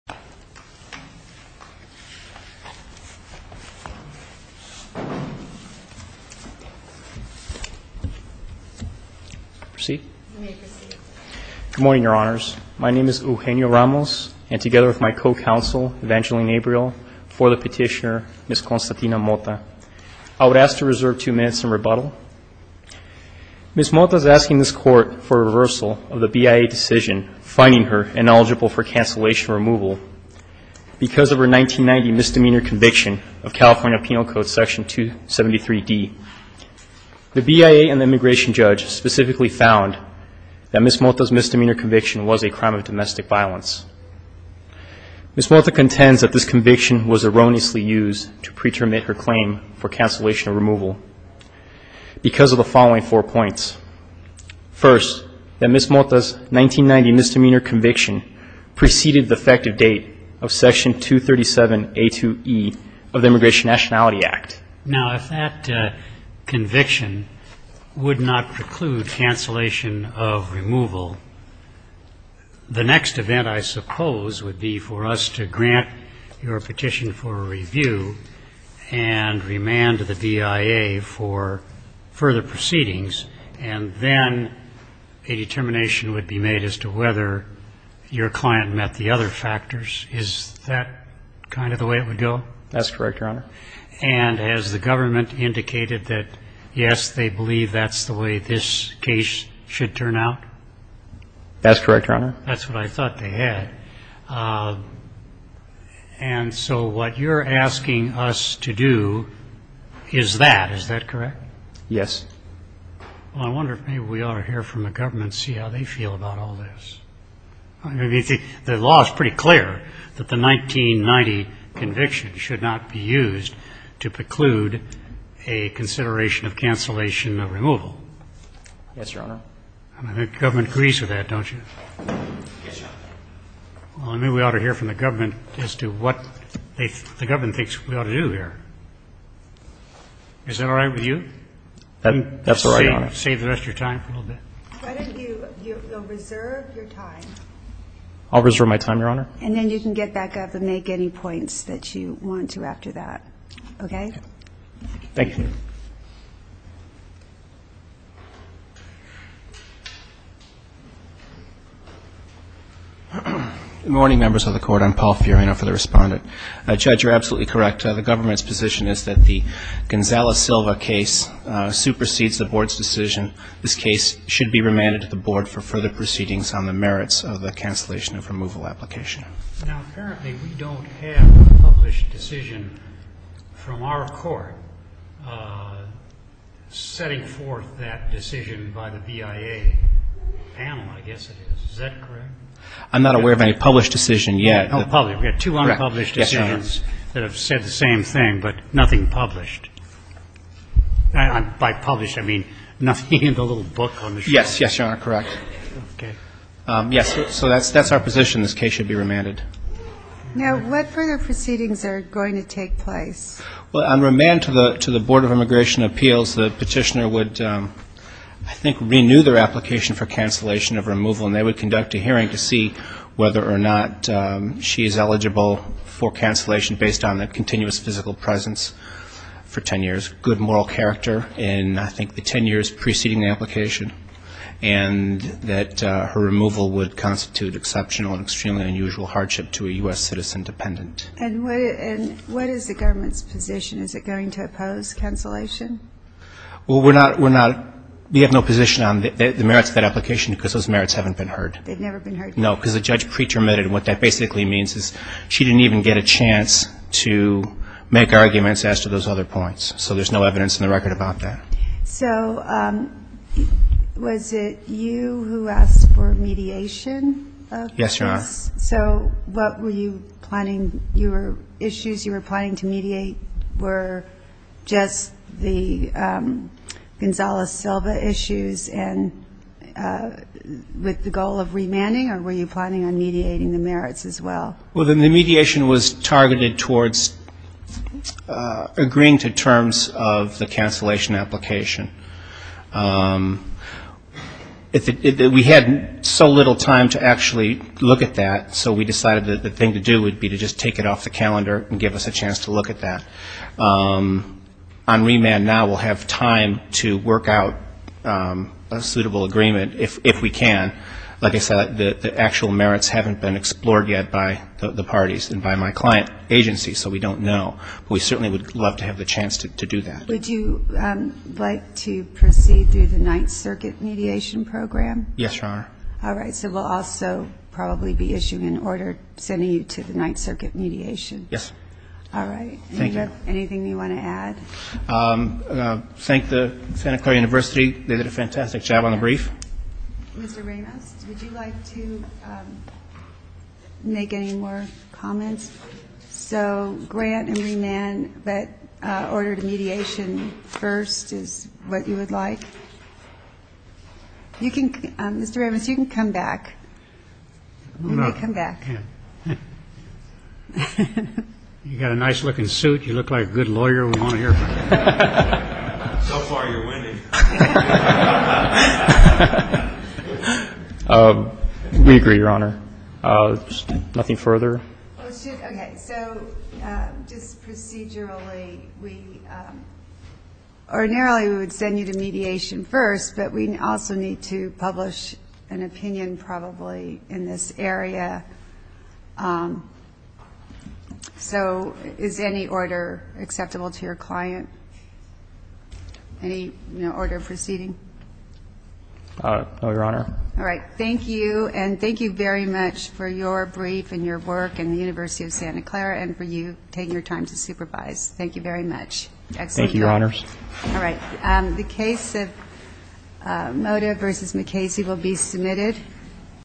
Good morning, Your Honors. My name is Eugenio Ramos, and together with my co-counsel, Evangeline Abreuil, before the petitioner, Ms. Constatina Mota, I would ask to reserve two minutes in rebuttal. Ms. Mota is asking this Court for reversal of the BIA decision finding her ineligible for cancellation or removal because of her 1990 misdemeanor conviction of California Penal Code Section 273D. The BIA and the immigration judge specifically found that Ms. Mota's misdemeanor conviction was a crime of domestic violence. Ms. Mota contends that this conviction was erroneously used to preterminate her claim for cancellation or removal because of the following four points. First, that Ms. Mota's 1990 misdemeanor conviction preceded the effective date of Section 237A2E of the Immigration Nationality Act. Now, if that conviction would not preclude cancellation of removal, the next event, I suppose, would be for us to grant your petition for review and remand the BIA for further proceedings, and then a determination would be made as to whether your client met the other factors. Is that kind of the way it would go? That's correct, Your Honor. And has the government indicated that, yes, they believe that's the way this case should turn out? That's correct, Your Honor. That's what I thought they had. And so what you're asking us to do is that. Is that correct? Yes. Well, I wonder if maybe we ought to hear from the government and see how they feel about all this. I mean, the law is pretty clear that the 1990 conviction should not be used to preclude a consideration of cancellation or removal. Yes, Your Honor. I mean, the government agrees with that, don't you? Yes, Your Honor. Well, I mean, we ought to hear from the government as to what the government thinks we ought to do here. Is that all right with you? That's all right, Your Honor. Save the rest of your time for a little bit. Why don't you reserve your time? I'll reserve my time, Your Honor. And then you can get back up and make any points that you want to after that, okay? Thank you. Good morning, members of the Court. I'm Paul Fiorina for the Respondent. Judge, you're absolutely correct. The government's position is that the Gonzales-Silva case supersedes the Board's decision. This case should be remanded to the Board for further proceedings on the merits of the cancellation of removal application. Now, apparently, we don't have a published decision from our Court setting forth that decision by the BIA panel, I guess it is. Is that correct? I'm not aware of any published decision yet. Oh, probably. We have two unpublished decisions that have said the same thing, but nothing published. By published, I mean nothing in the little book on the shelf. Yes, Your Honor, correct. Okay. Yes, so that's our position. This case should be remanded. Now, what further proceedings are going to take place? Well, on remand to the Board of Immigration Appeals, the petitioner would, I think, renew their application for cancellation of removal, and they would conduct a hearing to see whether or not she is eligible for cancellation based on that continuous physical presence for ten years, good moral character in, I think, the ten years preceding the application, and that her removal would constitute exceptional and extremely unusual hardship to a U.S. citizen dependent. And what is the government's position? Is it going to oppose cancellation? Well, we're not we have no position on the merits of that application because those merits haven't been heard. They've never been heard. No, because the judge pretermitted. What that basically means is she didn't even get a chance to make arguments as to those other points, so there's no evidence in the record about that. So was it you who asked for mediation of this? Yes, Your Honor. So what were you planning? Your issues you were planning to mediate were just the Gonzales-Silva issues and with the goal of remanding or were you planning on mediating the merits as well? Well, the mediation was targeted towards agreeing to terms of the cancellation application. We had so little time to actually look at that, so we decided that the thing to do would be to just take it off the calendar and give us a chance to look at that. On remand now we'll have time to work out a suitable agreement if we can. Like I said, the actual merits haven't been explored yet by the parties and by my client agency, so we don't know, but we certainly would love to have the chance to do that. Would you like to proceed through the Ninth Circuit mediation program? Yes, Your Honor. All right. So we'll also probably be issuing an order sending you to the Ninth Circuit mediation. Yes. All right. Thank you. Anything you want to add? Thank the Santa Clara University. They did a fantastic job on the brief. Mr. Ramos, would you like to make any more comments? So grant and remand, but order to mediation first is what you would like? Mr. Ramos, you can come back. Come back. You've got a nice-looking suit. You look like a good lawyer. We want to hear from you. So far you're winning. We agree, Your Honor. Nothing further? Okay. So just procedurally we would send you to mediation first, but we also need to publish an opinion probably in this area. So is any order acceptable to your client? Any order of proceeding? No, Your Honor. All right. Thank you, and thank you very much for your brief and your work in the University of Santa Clara and for you taking your time to supervise. Thank you very much. Thank you, Your Honors. All right. The case of Moda v. McCasey will be submitted.